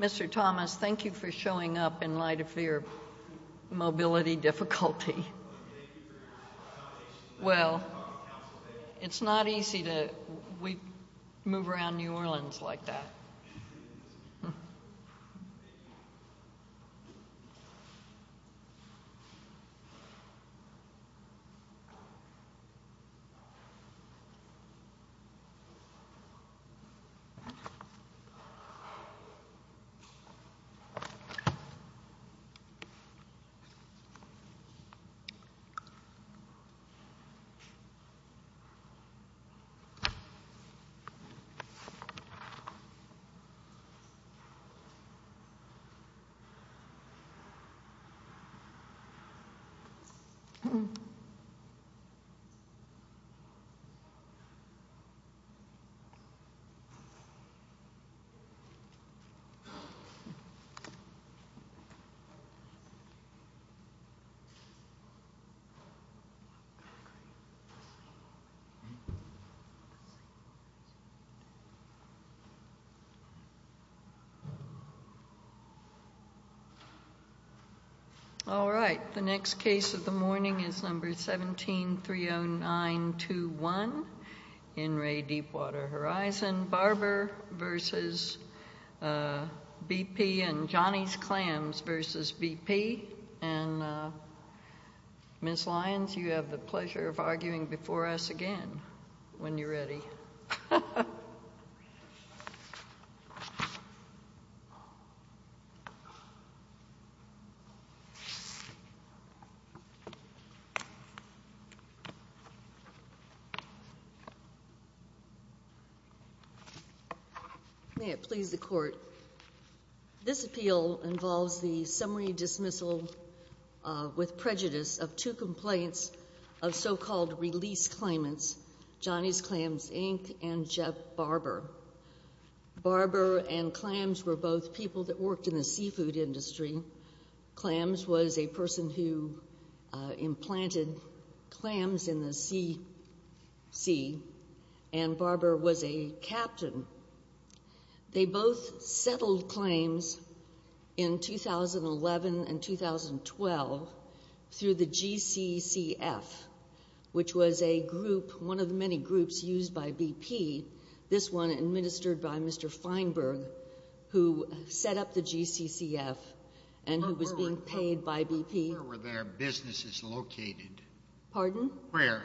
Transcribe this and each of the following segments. Mr. Thomas, thank you for showing up in light of your mobility difficulty. Well, it's not easy to move around New Orleans like that. I can't move around New Orleans like that. I'm sorry to hear that, Mr. Thomas. All right, the next case of the morning is number 17-30921 in Ray Deepwater Horizon. Barbara versus BP and Johnny's Clams versus BP. And Ms. Lyons, you have the pleasure of arguing before us again when you're ready. May it please the Court. This appeal involves the summary dismissal with prejudice of two complaints of so-called release claimants, Johnny's Clams, Inc. and Jeff Barber. Barber and Clams were both people that worked in the seafood industry. Clams was a person who implanted clams in the sea. And Barber was a captain. They both settled claims in 2011 and 2012 through the GCCF, which was a group, one of the many groups used by BP, this one administered by Mr. Feinberg, who set up the GCCF and who was being paid by BP. Where were their businesses located? Pardon? Where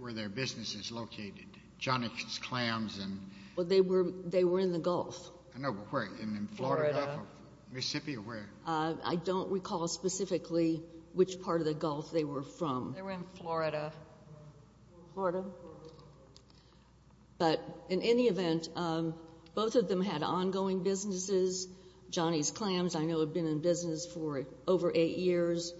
were their businesses located? Johnny's Clams and— Well, they were in the Gulf. I know, but where? In Florida? Florida. Mississippi? Where? I don't recall specifically which part of the Gulf they were from. They were in Florida. Florida. But in any event, both of them had ongoing businesses. Johnny's Clams, I know, had been in business for over eight years.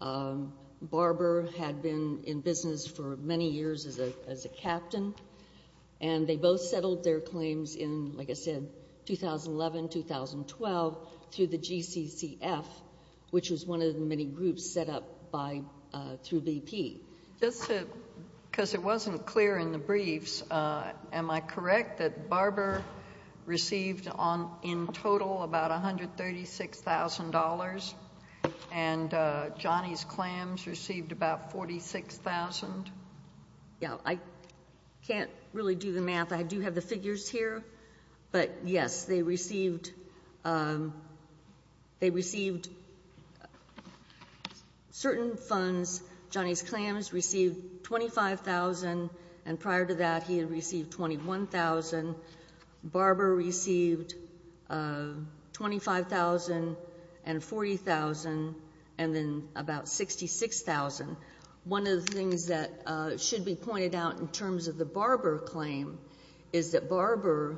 Barber had been in business for many years as a captain. And they both settled their claims in, like I said, 2011, 2012 through the GCCF, which was one of the many groups set up through BP. Just because it wasn't clear in the briefs, am I correct that Barber received in total about $136,000? And Johnny's Clams received about $46,000? Yeah, I can't really do the math. I do have the figures here. But, yes, they received certain funds. Johnny's Clams received $25,000. And prior to that, he had received $21,000. Barber received $25,000 and $40,000 and then about $66,000. One of the things that should be pointed out in terms of the Barber claim is that Barber,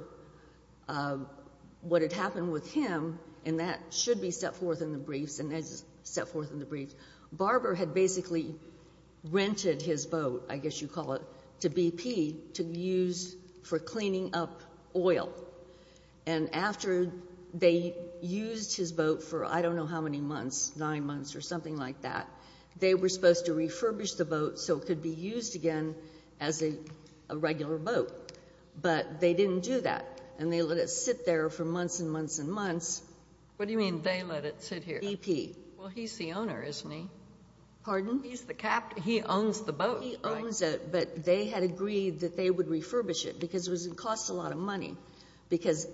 what had happened with him, and that should be set forth in the briefs, Barber had basically rented his boat, I guess you'd call it, to BP to use for cleaning up oil. And after they used his boat for I don't know how many months, nine months or something like that, they were supposed to refurbish the boat so it could be used again as a regular boat. But they didn't do that. And they let it sit there for months and months and months. What do you mean they let it sit here? BP. Well, he's the owner, isn't he? Pardon? He's the captain. He owns the boat, right? He owns it, but they had agreed that they would refurbish it because it would cost a lot of money because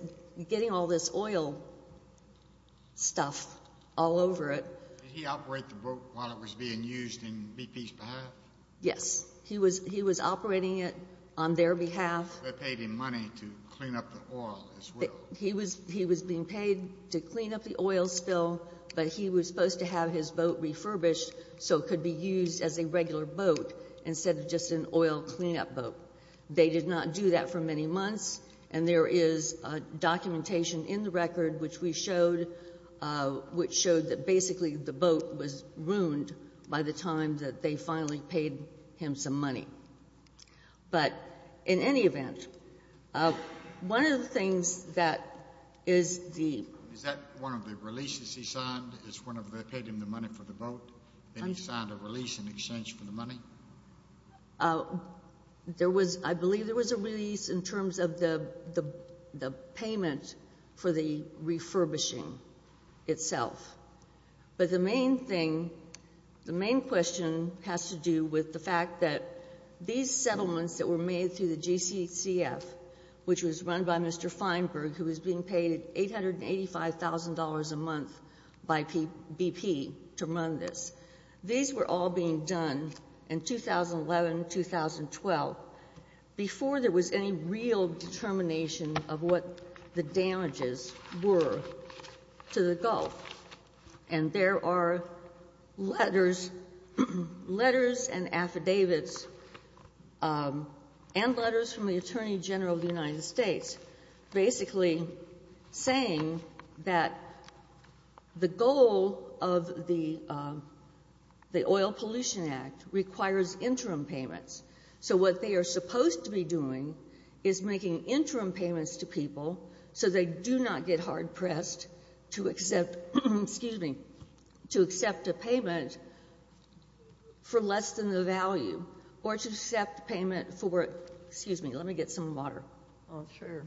getting all this oil stuff all over it. Did he operate the boat while it was being used on BP's behalf? Yes. He was operating it on their behalf. They paid him money to clean up the oil as well. He was being paid to clean up the oil spill, but he was supposed to have his boat refurbished so it could be used as a regular boat instead of just an oil cleanup boat. They did not do that for many months, and there is documentation in the record which we showed, which showed that basically the boat was ruined by the time that they finally paid him some money. But in any event, one of the things that is the— Is that one of the releases he signed is when they paid him the money for the boat and he signed a release in exchange for the money? I believe there was a release in terms of the payment for the refurbishing itself. But the main thing, the main question has to do with the fact that these settlements that were made through the GCCF, which was run by Mr. Feinberg, who was being paid $885,000 a month by BP to run this, these were all being done in 2011, 2012, before there was any real determination of what the damages were to the Gulf. And there are letters and affidavits and letters from the Attorney General of the United States basically saying that the goal of the Oil Pollution Act requires interim payments. So what they are supposed to be doing is making interim payments to people so they do not get hard-pressed to accept — excuse me — to accept a payment for less than the value or to accept payment for — excuse me, let me get some water. Oh, sure.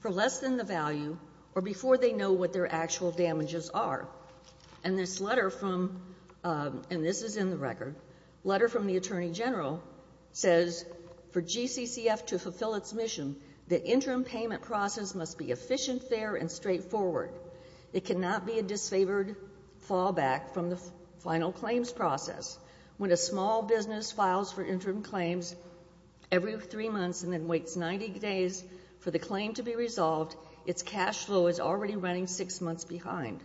For less than the value or before they know what their actual damages are. And this letter from — and this is in the record — letter from the Attorney General says, for GCCF to fulfill its mission, the interim payment process must be efficient, fair, and straightforward. It cannot be a disfavored fallback from the final claims process. When a small business files for interim claims every three months and then waits 90 days for the claim to be resolved, its cash flow is already running six months behind.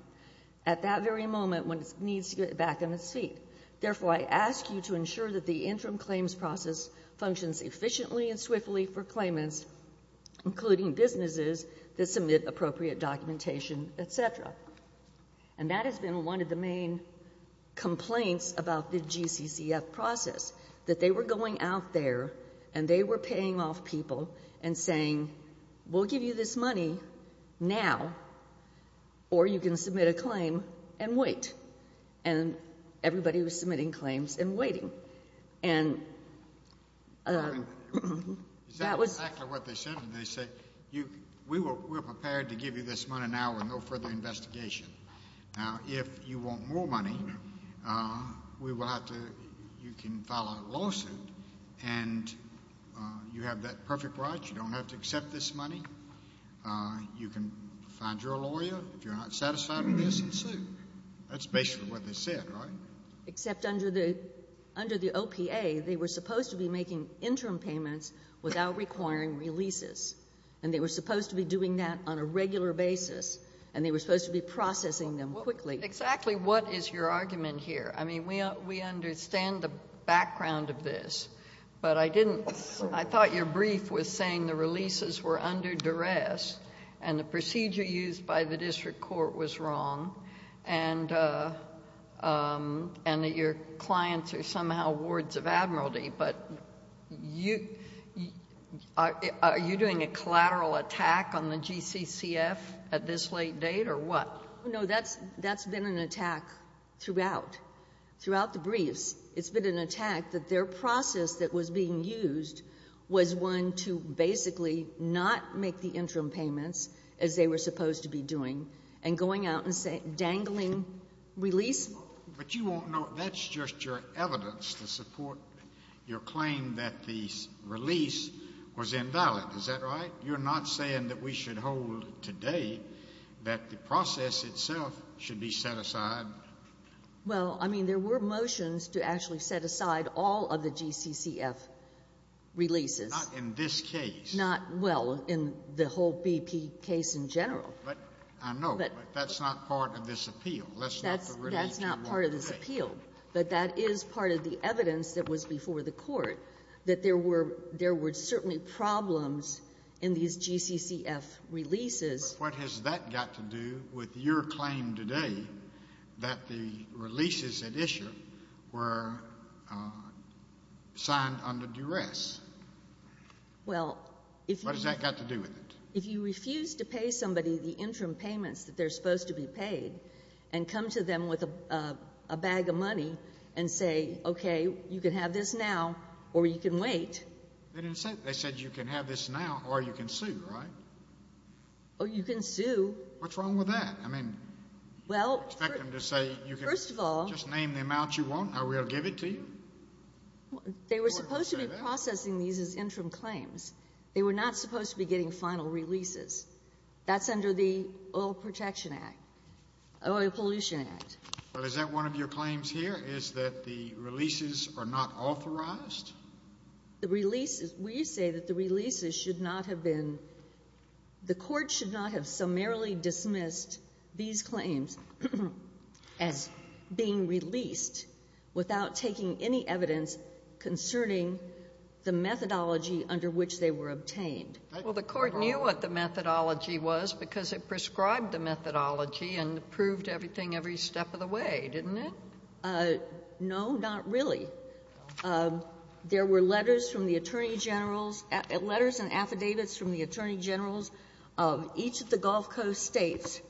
At that very moment, one needs to get back on its feet. Therefore, I ask you to ensure that the interim claims process functions efficiently and swiftly for claimants, including businesses that submit appropriate documentation, et cetera. And that has been one of the main complaints about the GCCF process, that they were going out there and they were paying off people and saying, we'll give you this money now or you can submit a claim and wait. And everybody was submitting claims and waiting. And that was — Is that exactly what they said? They said, we're prepared to give you this money now with no further investigation. Now, if you want more money, we will have to — you can file a lawsuit and you have that perfect right. You don't have to accept this money. You can find your lawyer if you're not satisfied with this and sue. That's basically what they said, right? Except under the OPA, they were supposed to be making interim payments without requiring releases. And they were supposed to be doing that on a regular basis, and they were supposed to be processing them quickly. Exactly what is your argument here? I mean, we understand the background of this, but I didn't — I thought your brief was saying the releases were under duress and the procedure used by the district court was wrong. And that your clients are somehow wards of admiralty. But you — are you doing a collateral attack on the GCCF at this late date or what? No, that's been an attack throughout, throughout the briefs. It's been an attack that their process that was being used was one to basically not make the interim payments, as they were supposed to be doing, and going out and dangling releases. But you won't know — that's just your evidence to support your claim that the release was invalid. Is that right? You're not saying that we should hold today that the process itself should be set aside? Well, I mean, there were motions to actually set aside all of the GCCF releases. Not in this case. Not, well, in the whole BP case in general. But I know, but that's not part of this appeal. That's not the release you want to take. That's not part of this appeal, but that is part of the evidence that was before the Court, that there were certainly problems in these GCCF releases. But what has that got to do with your claim today that the releases at issue were signed under duress? Well, if you — What has that got to do with it? If you refuse to pay somebody the interim payments that they're supposed to be paid and come to them with a bag of money and say, okay, you can have this now or you can wait — They didn't say that. They said you can have this now or you can sue, right? Or you can sue. What's wrong with that? I mean, you expect them to say you can — Well, first of all —— just name the amount you want, I will give it to you? They were supposed to be processing these as interim claims. They were not supposed to be getting final releases. That's under the Oil Protection Act, Oil Pollution Act. Well, is that one of your claims here, is that the releases are not authorized? The releases — we say that the releases should not have been — the Court should not have summarily dismissed these claims as being released without taking any evidence concerning the methodology under which they were obtained. Well, the Court knew what the methodology was because it prescribed the methodology and proved everything every step of the way, didn't it? No, not really. There were letters from the attorney generals — letters and affidavits from the attorney generals of each of the Gulf Coast states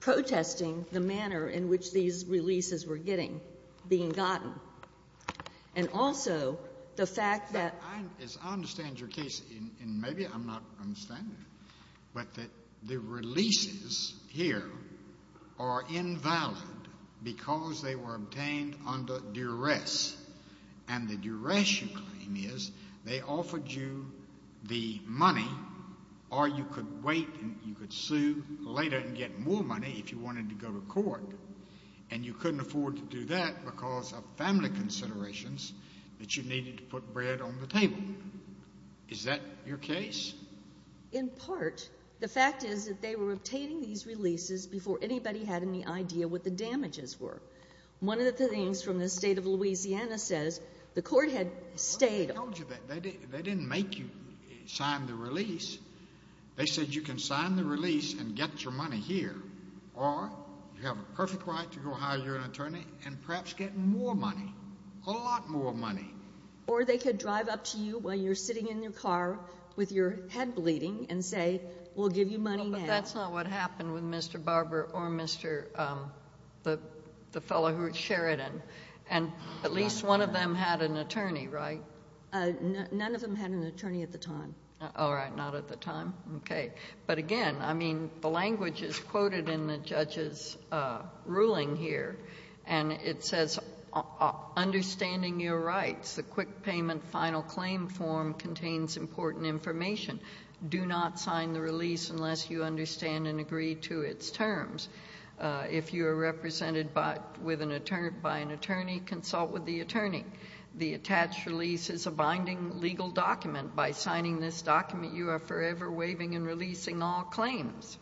protesting the manner in which these releases were getting — being gotten. And also the fact that — I understand your case, and maybe I'm not understanding it, but that the releases here are invalid because they were obtained under duress. And the duress, you claim, is they offered you the money or you could wait and you could sue later and get more money if you wanted to go to court. And you couldn't afford to do that because of family considerations that you needed to put bread on the table. Is that your case? In part. The fact is that they were obtaining these releases before anybody had any idea what the damages were. One of the things from the State of Louisiana says the Court had stayed — Well, they told you that. They didn't make you sign the release. They said you can sign the release and get your money here, or you have a perfect right to go hire your attorney and perhaps get more money, a lot more money. Or they could drive up to you while you're sitting in your car with your head bleeding and say, we'll give you money now. But that's not what happened with Mr. Barber or Mr. — the fellow who was Sheridan. And at least one of them had an attorney, right? None of them had an attorney at the time. All right. Not at the time. Okay. But again, I mean, the language is quoted in the judge's ruling here, and it says, understanding your rights, the quick payment final claim form contains important information. Do not sign the release unless you understand and agree to its terms. If you are represented by an attorney, consult with the attorney. The attached release is a binding legal document. By signing this document, you are forever waiving and releasing all claims.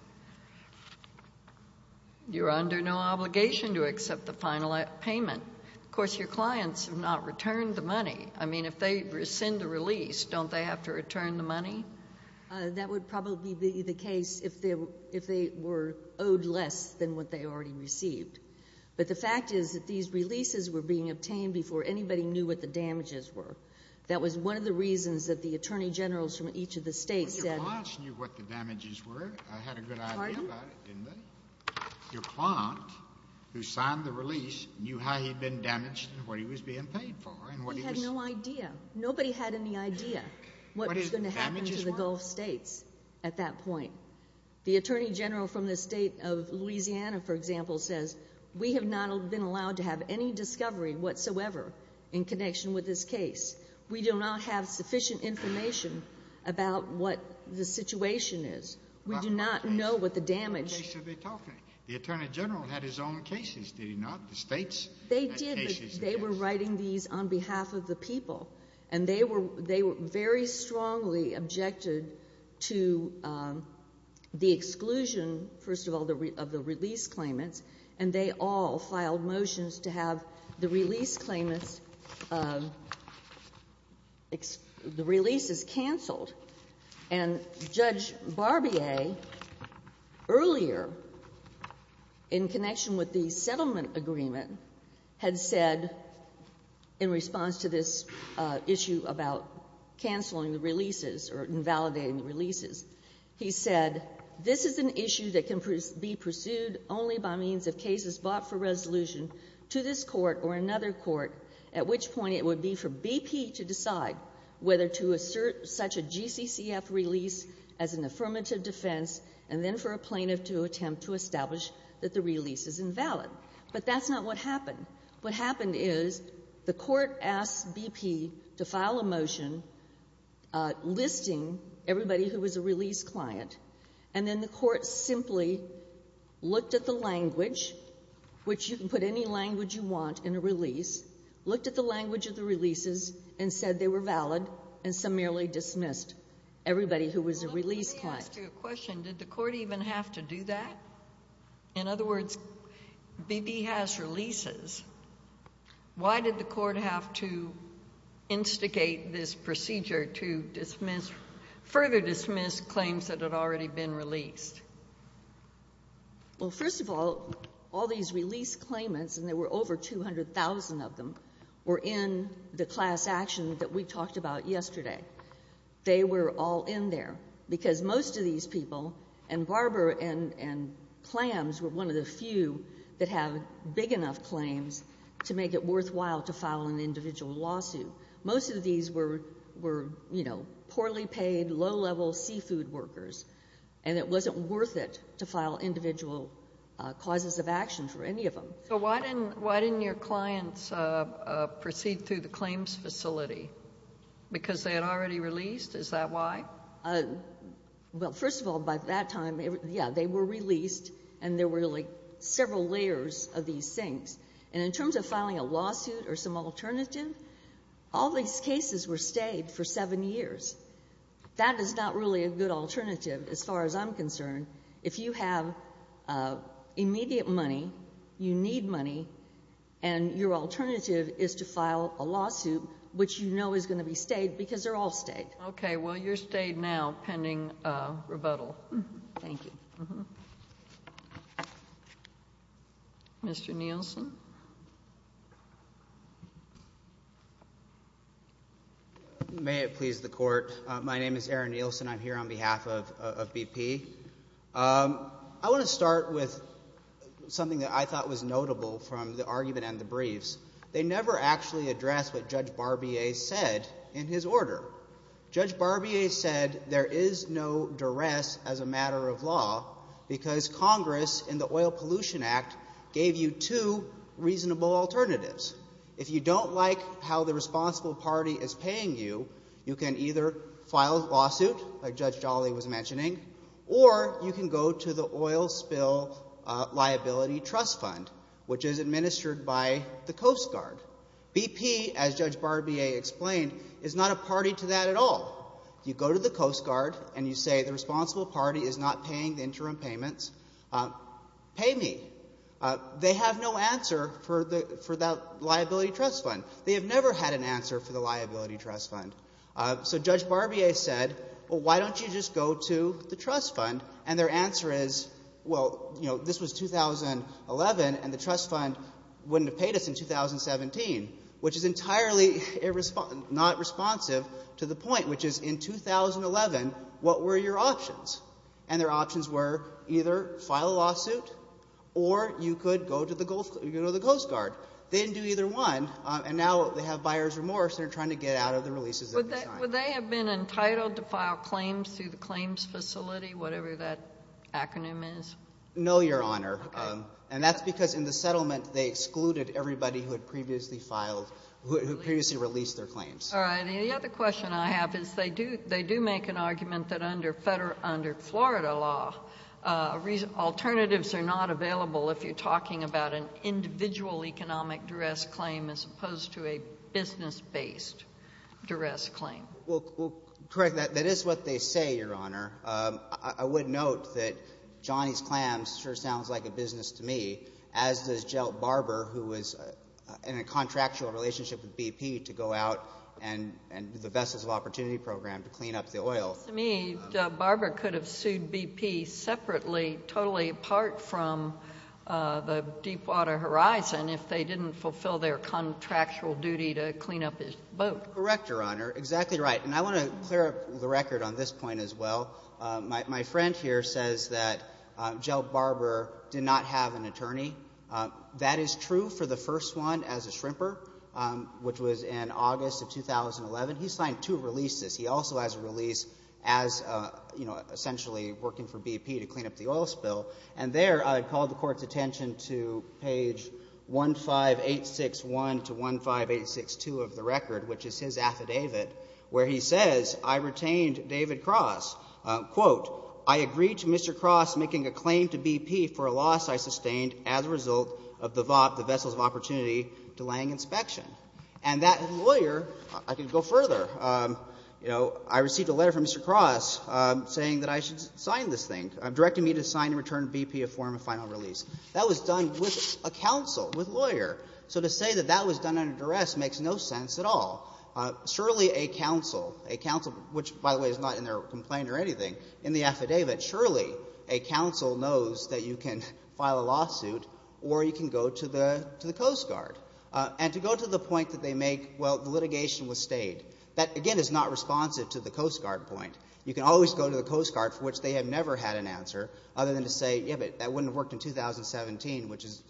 You are under no obligation to accept the final payment. Of course, your clients have not returned the money. I mean, if they rescind the release, don't they have to return the money? That would probably be the case if they were owed less than what they already received. But the fact is that these releases were being obtained before anybody knew what the damages were. That was one of the reasons that the attorney generals from each of the states said— Well, your clients knew what the damages were. I had a good idea about it, didn't I? Your client, who signed the release, knew how he'd been damaged and what he was being paid for. He had no idea. Nobody had any idea what was going to happen to the Gulf states at that point. The attorney general from the state of Louisiana, for example, says, we have not been allowed to have any discovery whatsoever in connection with this case. We do not have sufficient information about what the situation is. We do not know what the damage— What case are they talking? The attorney general had his own cases, did he not? The states had cases of this. They did, but they were writing these on behalf of the people. And they were very strongly objected to the exclusion, first of all, of the release claimants, and they all filed motions to have the release claimants—the releases canceled. And Judge Barbier, earlier, in connection with the settlement agreement, had said, in response to this issue about canceling the releases or invalidating the releases, he said, this is an issue that can be pursued only by means of cases bought for resolution to this court or another court, at which point it would be for BP to decide whether to assert such a GCCF release as an affirmative defense, and then for a plaintiff to attempt to establish that the release is invalid. But that's not what happened. What happened is the Court asked BP to file a motion listing everybody who was a release client, and then the Court simply looked at the language, which you can put any language you want in a release, looked at the language of the releases, and said they were valid, and some merely dismissed everybody who was a release client. Let me ask you a question. Did the Court even have to do that? In other words, BP has releases. Why did the Court have to instigate this procedure to dismiss, further dismiss claims that had already been released? Well, first of all, all these release claimants, and there were over 200,000 of them, were in the class action that we talked about yesterday. They were all in there, because most of these people, and Barber and Clams were one of the few that have big enough claims to make it worthwhile to file an individual lawsuit. Most of these were, you know, poorly paid, low-level seafood workers, and it wasn't worth it to file individual causes of action for any of them. So why didn't your clients proceed through the claims facility? Because they had already released? Is that why? Well, first of all, by that time, yeah, they were released, and there were, like, several layers of these things. And in terms of filing a lawsuit or some alternative, all these cases were stayed for seven years. That is not really a good alternative, as far as I'm concerned. If you have immediate money, you need money, and your alternative is to file a lawsuit, which you know is going to be stayed, because they're all stayed. Okay. Well, you're stayed now pending rebuttal. Thank you. Mr. Nielsen. May it please the Court. My name is Aaron Nielsen. I'm here on behalf of BP. I want to start with something that I thought was notable from the argument and the briefs. They never actually addressed what Judge Barbier said in his order. Judge Barbier said there is no duress as a matter of law because Congress in the Oil Pollution Act gave you two reasonable alternatives. If you don't like how the responsible party is paying you, you can either file a lawsuit, like Judge Jolly was mentioning, or you can go to the Oil Spill Liability Trust Fund, which is administered by the Coast Guard. BP, as Judge Barbier explained, is not a party to that at all. You go to the Coast Guard, and you say the responsible party is not paying the interim payments. Pay me. They have no answer for that liability trust fund. They have never had an answer for the liability trust fund. So Judge Barbier said, well, why don't you just go to the trust fund? And their answer is, well, you know, this was 2011, and the trust fund wouldn't have paid us in 2017, which is entirely not responsive to the point, which is in 2011, what were your options? And their options were either file a lawsuit or you could go to the Coast Guard. They didn't do either one, and now they have buyer's remorse, and they're trying to get out of the releases that they signed. Would they have been entitled to file claims through the claims facility, whatever that acronym is? No, Your Honor. Okay. And that's because in the settlement they excluded everybody who had previously filed, who had previously released their claims. All right. And the other question I have is they do make an argument that under Florida law, alternatives are not available if you're talking about an individual economic duress claim as opposed to a business-based duress claim. Well, correct. That is what they say, Your Honor. I would note that Johnny's Clams sure sounds like a business to me, as does Jill Barber, who was in a contractual relationship with BP to go out and do the Vessels of Opportunity Program to clean up the oil. To me, Barber could have sued BP separately, totally apart from the Deepwater Horizon, if they didn't fulfill their contractual duty to clean up his boat. Correct, Your Honor. Exactly right. And I want to clear up the record on this point as well. My friend here says that Jill Barber did not have an attorney. That is true for the first one as a shrimper, which was in August of 2011. He signed two releases. He also has a release as, you know, essentially working for BP to clean up the oil spill. And there I called the Court's attention to page 15861 to 15862 of the record, which is his affidavit, where he says, I retained David Cross, quote, I agree to Mr. Cross making a claim to BP for a loss I sustained as a result of the VOP, the Vessels of Opportunity, delaying inspection. And that lawyer — I could go further. You know, I received a letter from Mr. Cross saying that I should sign this thing, directing me to sign and return BP a form of final release. That was done with a counsel, with a lawyer. So to say that that was done under duress makes no sense at all. Surely a counsel, a counsel, which, by the way, is not in their complaint or anything, in the affidavit, surely a counsel knows that you can file a lawsuit or you can go to the Coast Guard. And to go to the point that they make, well, the litigation was stayed, that, again, is not responsive to the Coast Guard point. You can always go to the Coast Guard, for which they have never had an answer, other than to say, yeah, but that wouldn't have worked in 2017, which is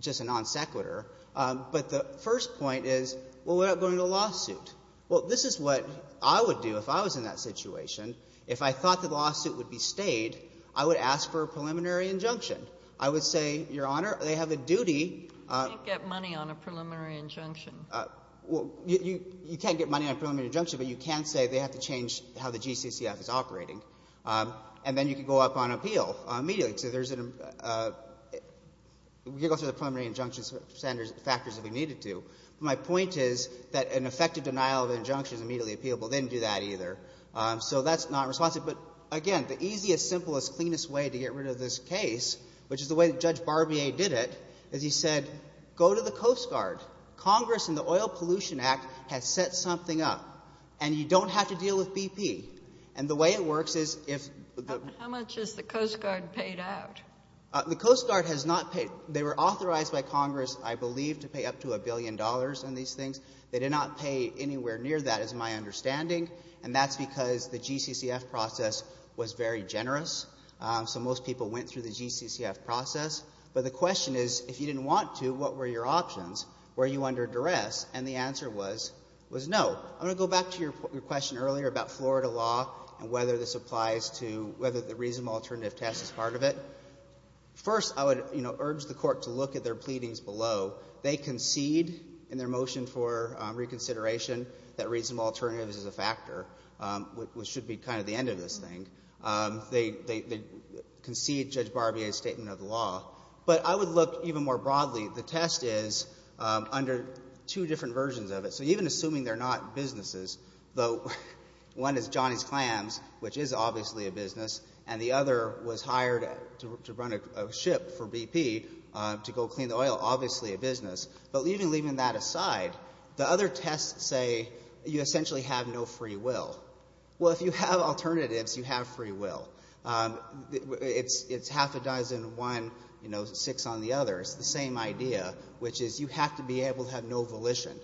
just a non sequitur. But the first point is, well, what about going to a lawsuit? Well, this is what I would do if I was in that situation. If I thought the lawsuit would be stayed, I would ask for a preliminary injunction. I would say, Your Honor, they have a duty — You can't get money on a preliminary injunction. Well, you can't get money on a preliminary injunction, but you can say they have to change how the GCCF is operating. And then you can go up on appeal immediately. So there's an — we can go through the preliminary injunction factors if we needed to. But my point is that an effective denial of injunction is immediately appealable. They didn't do that either. So that's not responsive. But, again, the easiest, simplest, cleanest way to get rid of this case, which is the way that Judge Barbier did it, is he said, go to the Coast Guard. Congress in the Oil Pollution Act has set something up, and you don't have to deal with BP. And the way it works is if the — How much has the Coast Guard paid out? The Coast Guard has not paid — they were authorized by Congress, I believe, to pay up to a billion dollars on these things. They did not pay anywhere near that, is my understanding. And that's because the GCCF process was very generous. So most people went through the GCCF process. But the question is, if you didn't want to, what were your options? Were you under duress? And the answer was no. I'm going to go back to your question earlier about Florida law and whether this applies to — whether the reasonable alternative test is part of it. First, I would, you know, urge the Court to look at their pleadings below. They concede in their motion for reconsideration that reasonable alternative is a factor, which should be kind of the end of this thing. They concede Judge Barbier's statement of the law. But I would look even more broadly. The test is under two different versions of it. So even assuming they're not businesses, though one is Johnny's Clams, which is obviously a business, and the other was hired to run a ship for BP to go clean the oil, obviously a business. But even leaving that aside, the other tests say you essentially have no free will. Well, if you have alternatives, you have free will. It's half a dozen, one, you know, six on the other. It's the same idea, which is you have to be able to have no volition.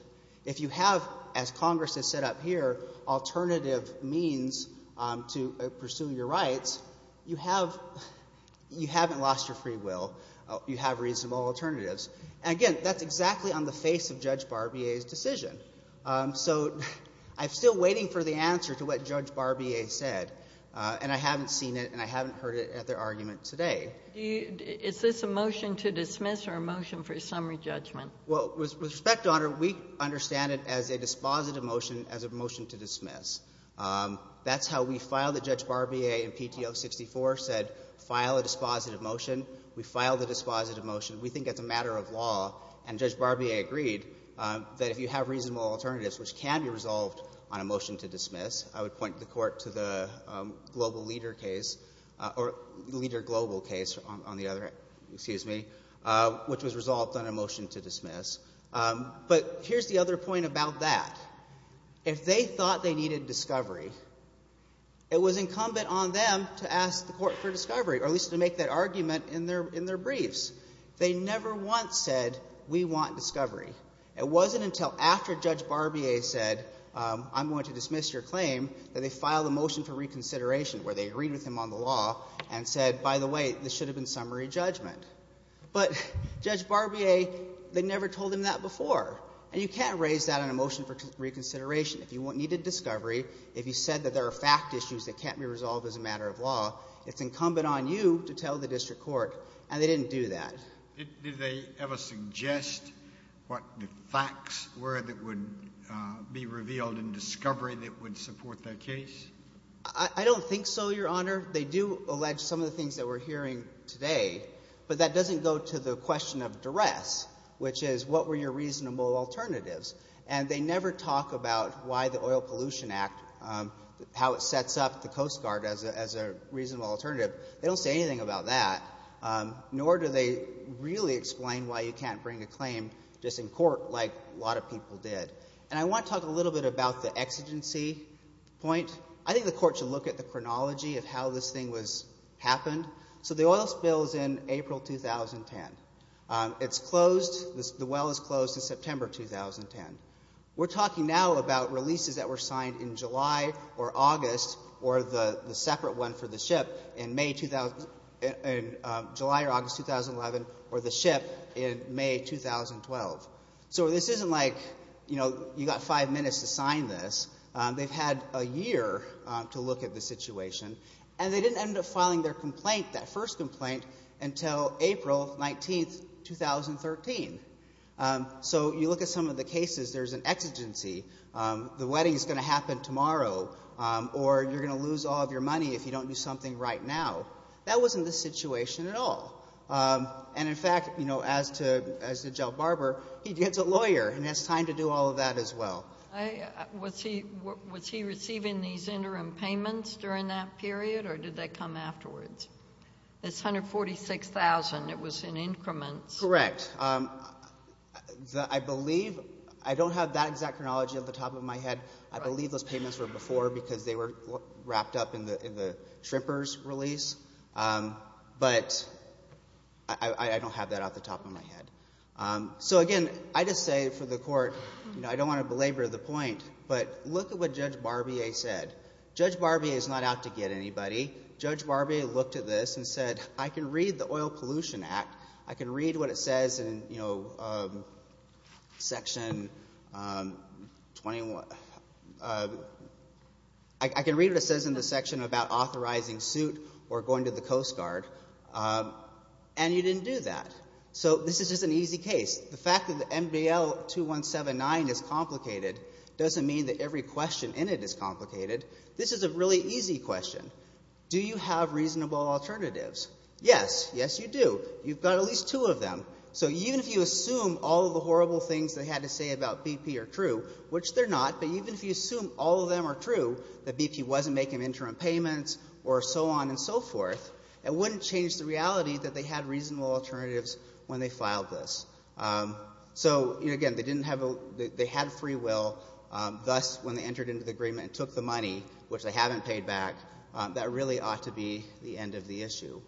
If you have, as Congress has set up here, alternative means to pursue your rights, you have — you haven't lost your free will. You have reasonable alternatives. And again, that's exactly on the face of Judge Barbier's decision. So I'm still waiting for the answer to what Judge Barbier said, and I haven't seen it and I haven't heard it at their argument today. Is this a motion to dismiss or a motion for summary judgment? Well, with respect, Your Honor, we understand it as a dispositive motion, as a motion to dismiss. That's how we filed it. Judge Barbier in PTO 64 said file a dispositive motion. We filed a dispositive motion. We think it's a matter of law, and Judge Barbier agreed that if you have reasonable alternatives, which can be resolved on a motion to dismiss, I would point the Court to the Global Leader case or Leader Global case on the other, excuse me, which was resolved on a motion to dismiss. But here's the other point about that. If they thought they needed discovery, it was incumbent on them to ask the Court for discovery, or at least to make that argument in their briefs. They never once said we want discovery. It wasn't until after Judge Barbier said I'm going to dismiss your claim that they filed a motion for reconsideration where they agreed with him on the law and said, by the way, this should have been summary judgment. But Judge Barbier, they never told him that before, and you can't raise that on a motion for reconsideration. If you needed discovery, if you said that there are fact issues that can't be resolved as a matter of law, it's incumbent on you to tell the district court, and they didn't do that. Did they ever suggest what the facts were that would be revealed in discovery that would support their case? I don't think so, Your Honor. They do allege some of the things that we're hearing today, but that doesn't go to the question of duress, which is what were your reasonable alternatives. And they never talk about why the Oil Pollution Act, how it sets up the Coast Guard as a reasonable alternative. They don't say anything about that, nor do they really explain why you can't bring a claim just in court like a lot of people did. And I want to talk a little bit about the exigency point. I think the Court should look at the chronology of how this thing happened. So the oil spill is in April 2010. It's closed. The well is closed in September 2010. We're talking now about releases that were signed in July or August or the separate one for the ship in July or August 2011 or the ship in May 2012. So this isn't like, you know, you've got five minutes to sign this. They've had a year to look at the situation. And they didn't end up filing their complaint, that first complaint, until April 19, 2013. So you look at some of the cases. There's an exigency. The wedding is going to happen tomorrow, or you're going to lose all of your money if you don't do something right now. That wasn't the situation at all. And, in fact, you know, as to Joe Barber, he gets a lawyer and has time to do all of that as well. Was he receiving these interim payments during that period, or did they come afterwards? It's $146,000. It was in increments. Correct. I believe, I don't have that exact chronology off the top of my head. I believe those payments were before because they were wrapped up in the shrimper's release. But I don't have that off the top of my head. So, again, I just say for the court, you know, I don't want to belabor the point, but look at what Judge Barbier said. Judge Barbier is not out to get anybody. Judge Barbier looked at this and said, I can read the Oil Pollution Act. I can read what it says in, you know, Section 21. I can read what it says in the section about authorizing suit or going to the Coast Guard. And you didn't do that. So this is just an easy case. The fact that the MBL 2179 is complicated doesn't mean that every question in it is complicated. This is a really easy question. Do you have reasonable alternatives? Yes. Yes, you do. You've got at least two of them. So even if you assume all of the horrible things they had to say about BP are true, which they're not, but even if you assume all of them are true, that BP wasn't making interim payments or so on and so forth, it wouldn't change the reality that they had reasonable alternatives when they filed this. So, again, they didn't have a ‑‑ they had free will. Thus, when they entered into the agreement and took the money, which they haven't paid back, that really ought to be the end of the issue.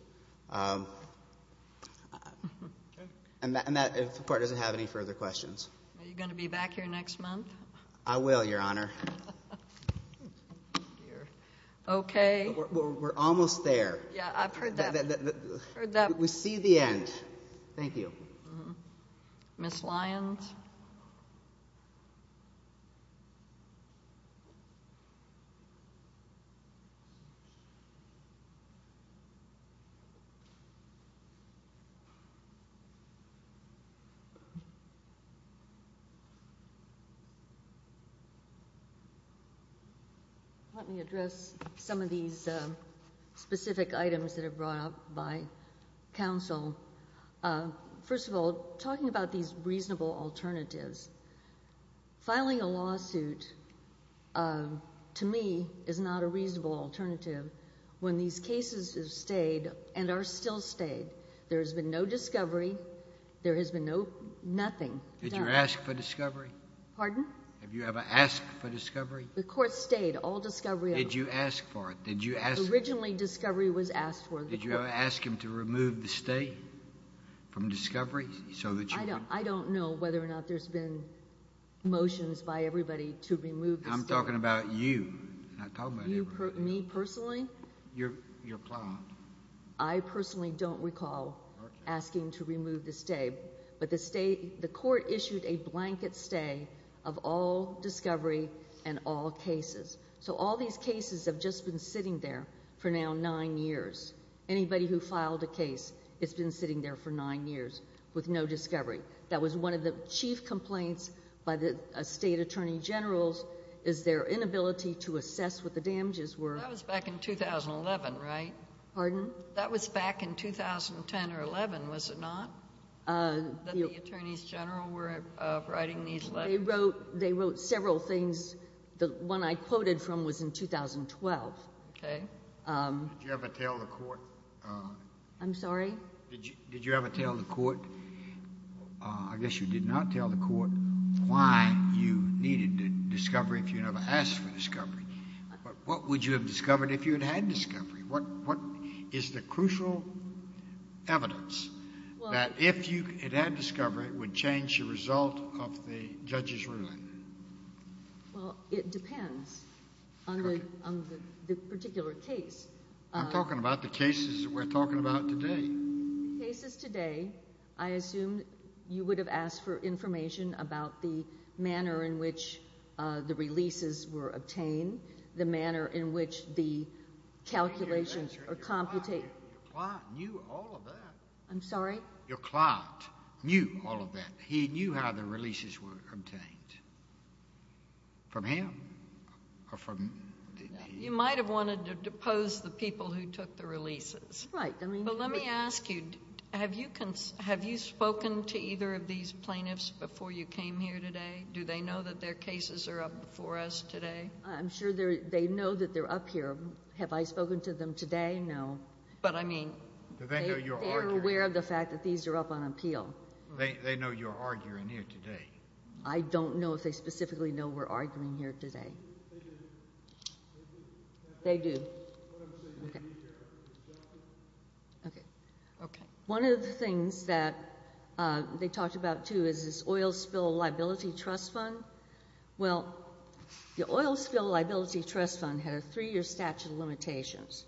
And that, of course, doesn't have any further questions. Are you going to be back here next month? I will, Your Honor. Okay. We're almost there. Yeah, I've heard that. We see the end. Thank you. Ms. Lyons? Ms. Lyons? Let me address some of these specific items that are brought up by counsel. First of all, talking about these reasonable alternatives, filing a lawsuit to me is not a reasonable alternative when these cases have stayed and are still stayed. There has been no discovery. There has been nothing done. Did you ask for discovery? Pardon? Have you ever asked for discovery? The court stayed. All discovery ‑‑ Did you ask for it? Did you ask for it? Originally, discovery was asked for. Did you ask him to remove the stay from discovery? I don't know whether or not there's been motions by everybody to remove the stay. I'm talking about you, not everybody. Me personally? Your client. I personally don't recall asking to remove the stay, but the court issued a blanket stay of all discovery and all cases. So all these cases have just been sitting there for now nine years. Anybody who filed a case has been sitting there for nine years with no discovery. That was one of the chief complaints by the state attorney generals is their inability to assess what the damages were. That was back in 2011, right? Pardon? That was back in 2010 or 11, was it not, that the attorneys general were writing these letters? They wrote several things. The one I quoted from was in 2012. Okay. Did you ever tell the court ‑‑ I'm sorry? Did you ever tell the court, I guess you did not tell the court, why you needed discovery if you never asked for discovery? What would you have discovered if you had had discovery? What is the crucial evidence that if you had had discovery it would change the result of the judge's ruling? Well, it depends on the particular case. I'm talking about the cases that we're talking about today. Cases today, I assume you would have asked for information about the manner in which the releases were obtained, the manner in which the calculations are computed. Your client knew all of that. I'm sorry? Your client knew all of that. He knew how the releases were obtained from him or from ‑‑ You might have wanted to depose the people who took the releases. Right. But let me ask you, have you spoken to either of these plaintiffs before you came here today? Do they know that their cases are up before us today? I'm sure they know that they're up here. Have I spoken to them today? No. But I mean ‑‑ Do they know you're arguing? They're aware of the fact that these are up on appeal. They know you're arguing here today. I don't know if they specifically know we're arguing here today. They do. They do. Okay. Okay. One of the things that they talked about, too, is this oil spill liability trust fund. Well, the oil spill liability trust fund had a three‑year statute of limitations.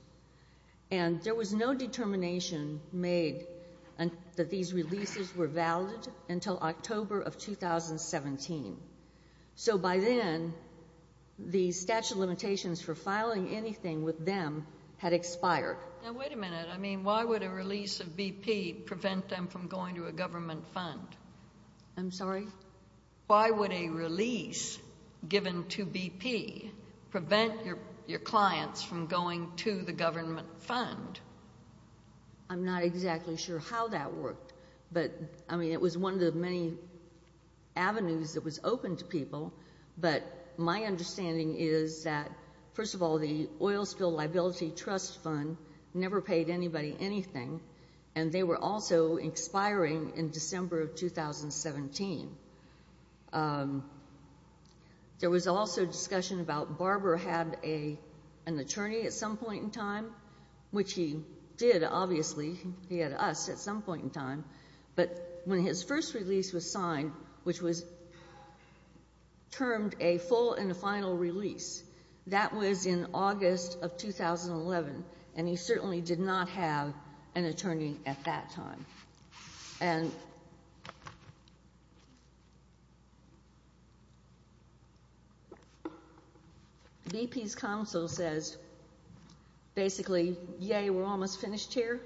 And there was no determination made that these releases were valid until October of 2017. So by then, the statute of limitations for filing anything with them had expired. Now, wait a minute. I mean, why would a release of BP prevent them from going to a government fund? I'm sorry? Why would a release given to BP prevent your clients from going to the government fund? I'm not exactly sure how that worked. But, I mean, it was one of the many avenues that was open to people. But my understanding is that, first of all, the oil spill liability trust fund never paid anybody anything. And they were also expiring in December of 2017. There was also discussion about Barbara had an attorney at some point in time, which he did, obviously. He had us at some point in time. But when his first release was signed, which was termed a full and final release, that was in August of 2011. And he certainly did not have an attorney at that time. And BP's counsel says, basically, yay, we're almost finished here,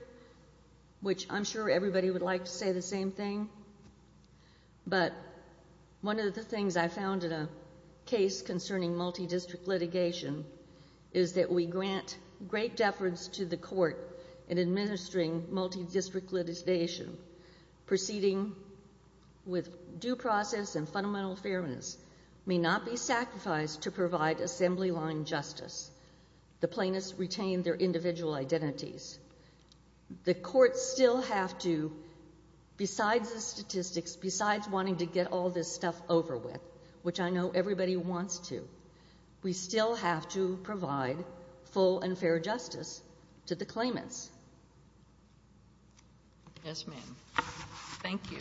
which I'm sure everybody would like to say the same thing. But one of the things I found in a case concerning multidistrict litigation is that we grant great deference to the court in administering multidistrict litigation. Proceeding with due process and fundamental fairness may not be sacrificed to provide assembly line justice. The plaintiffs retain their individual identities. The courts still have to, besides the statistics, besides wanting to get all this stuff over with, which I know everybody wants to, we still have to provide full and fair justice to the claimants. Yes, ma'am. Thank you.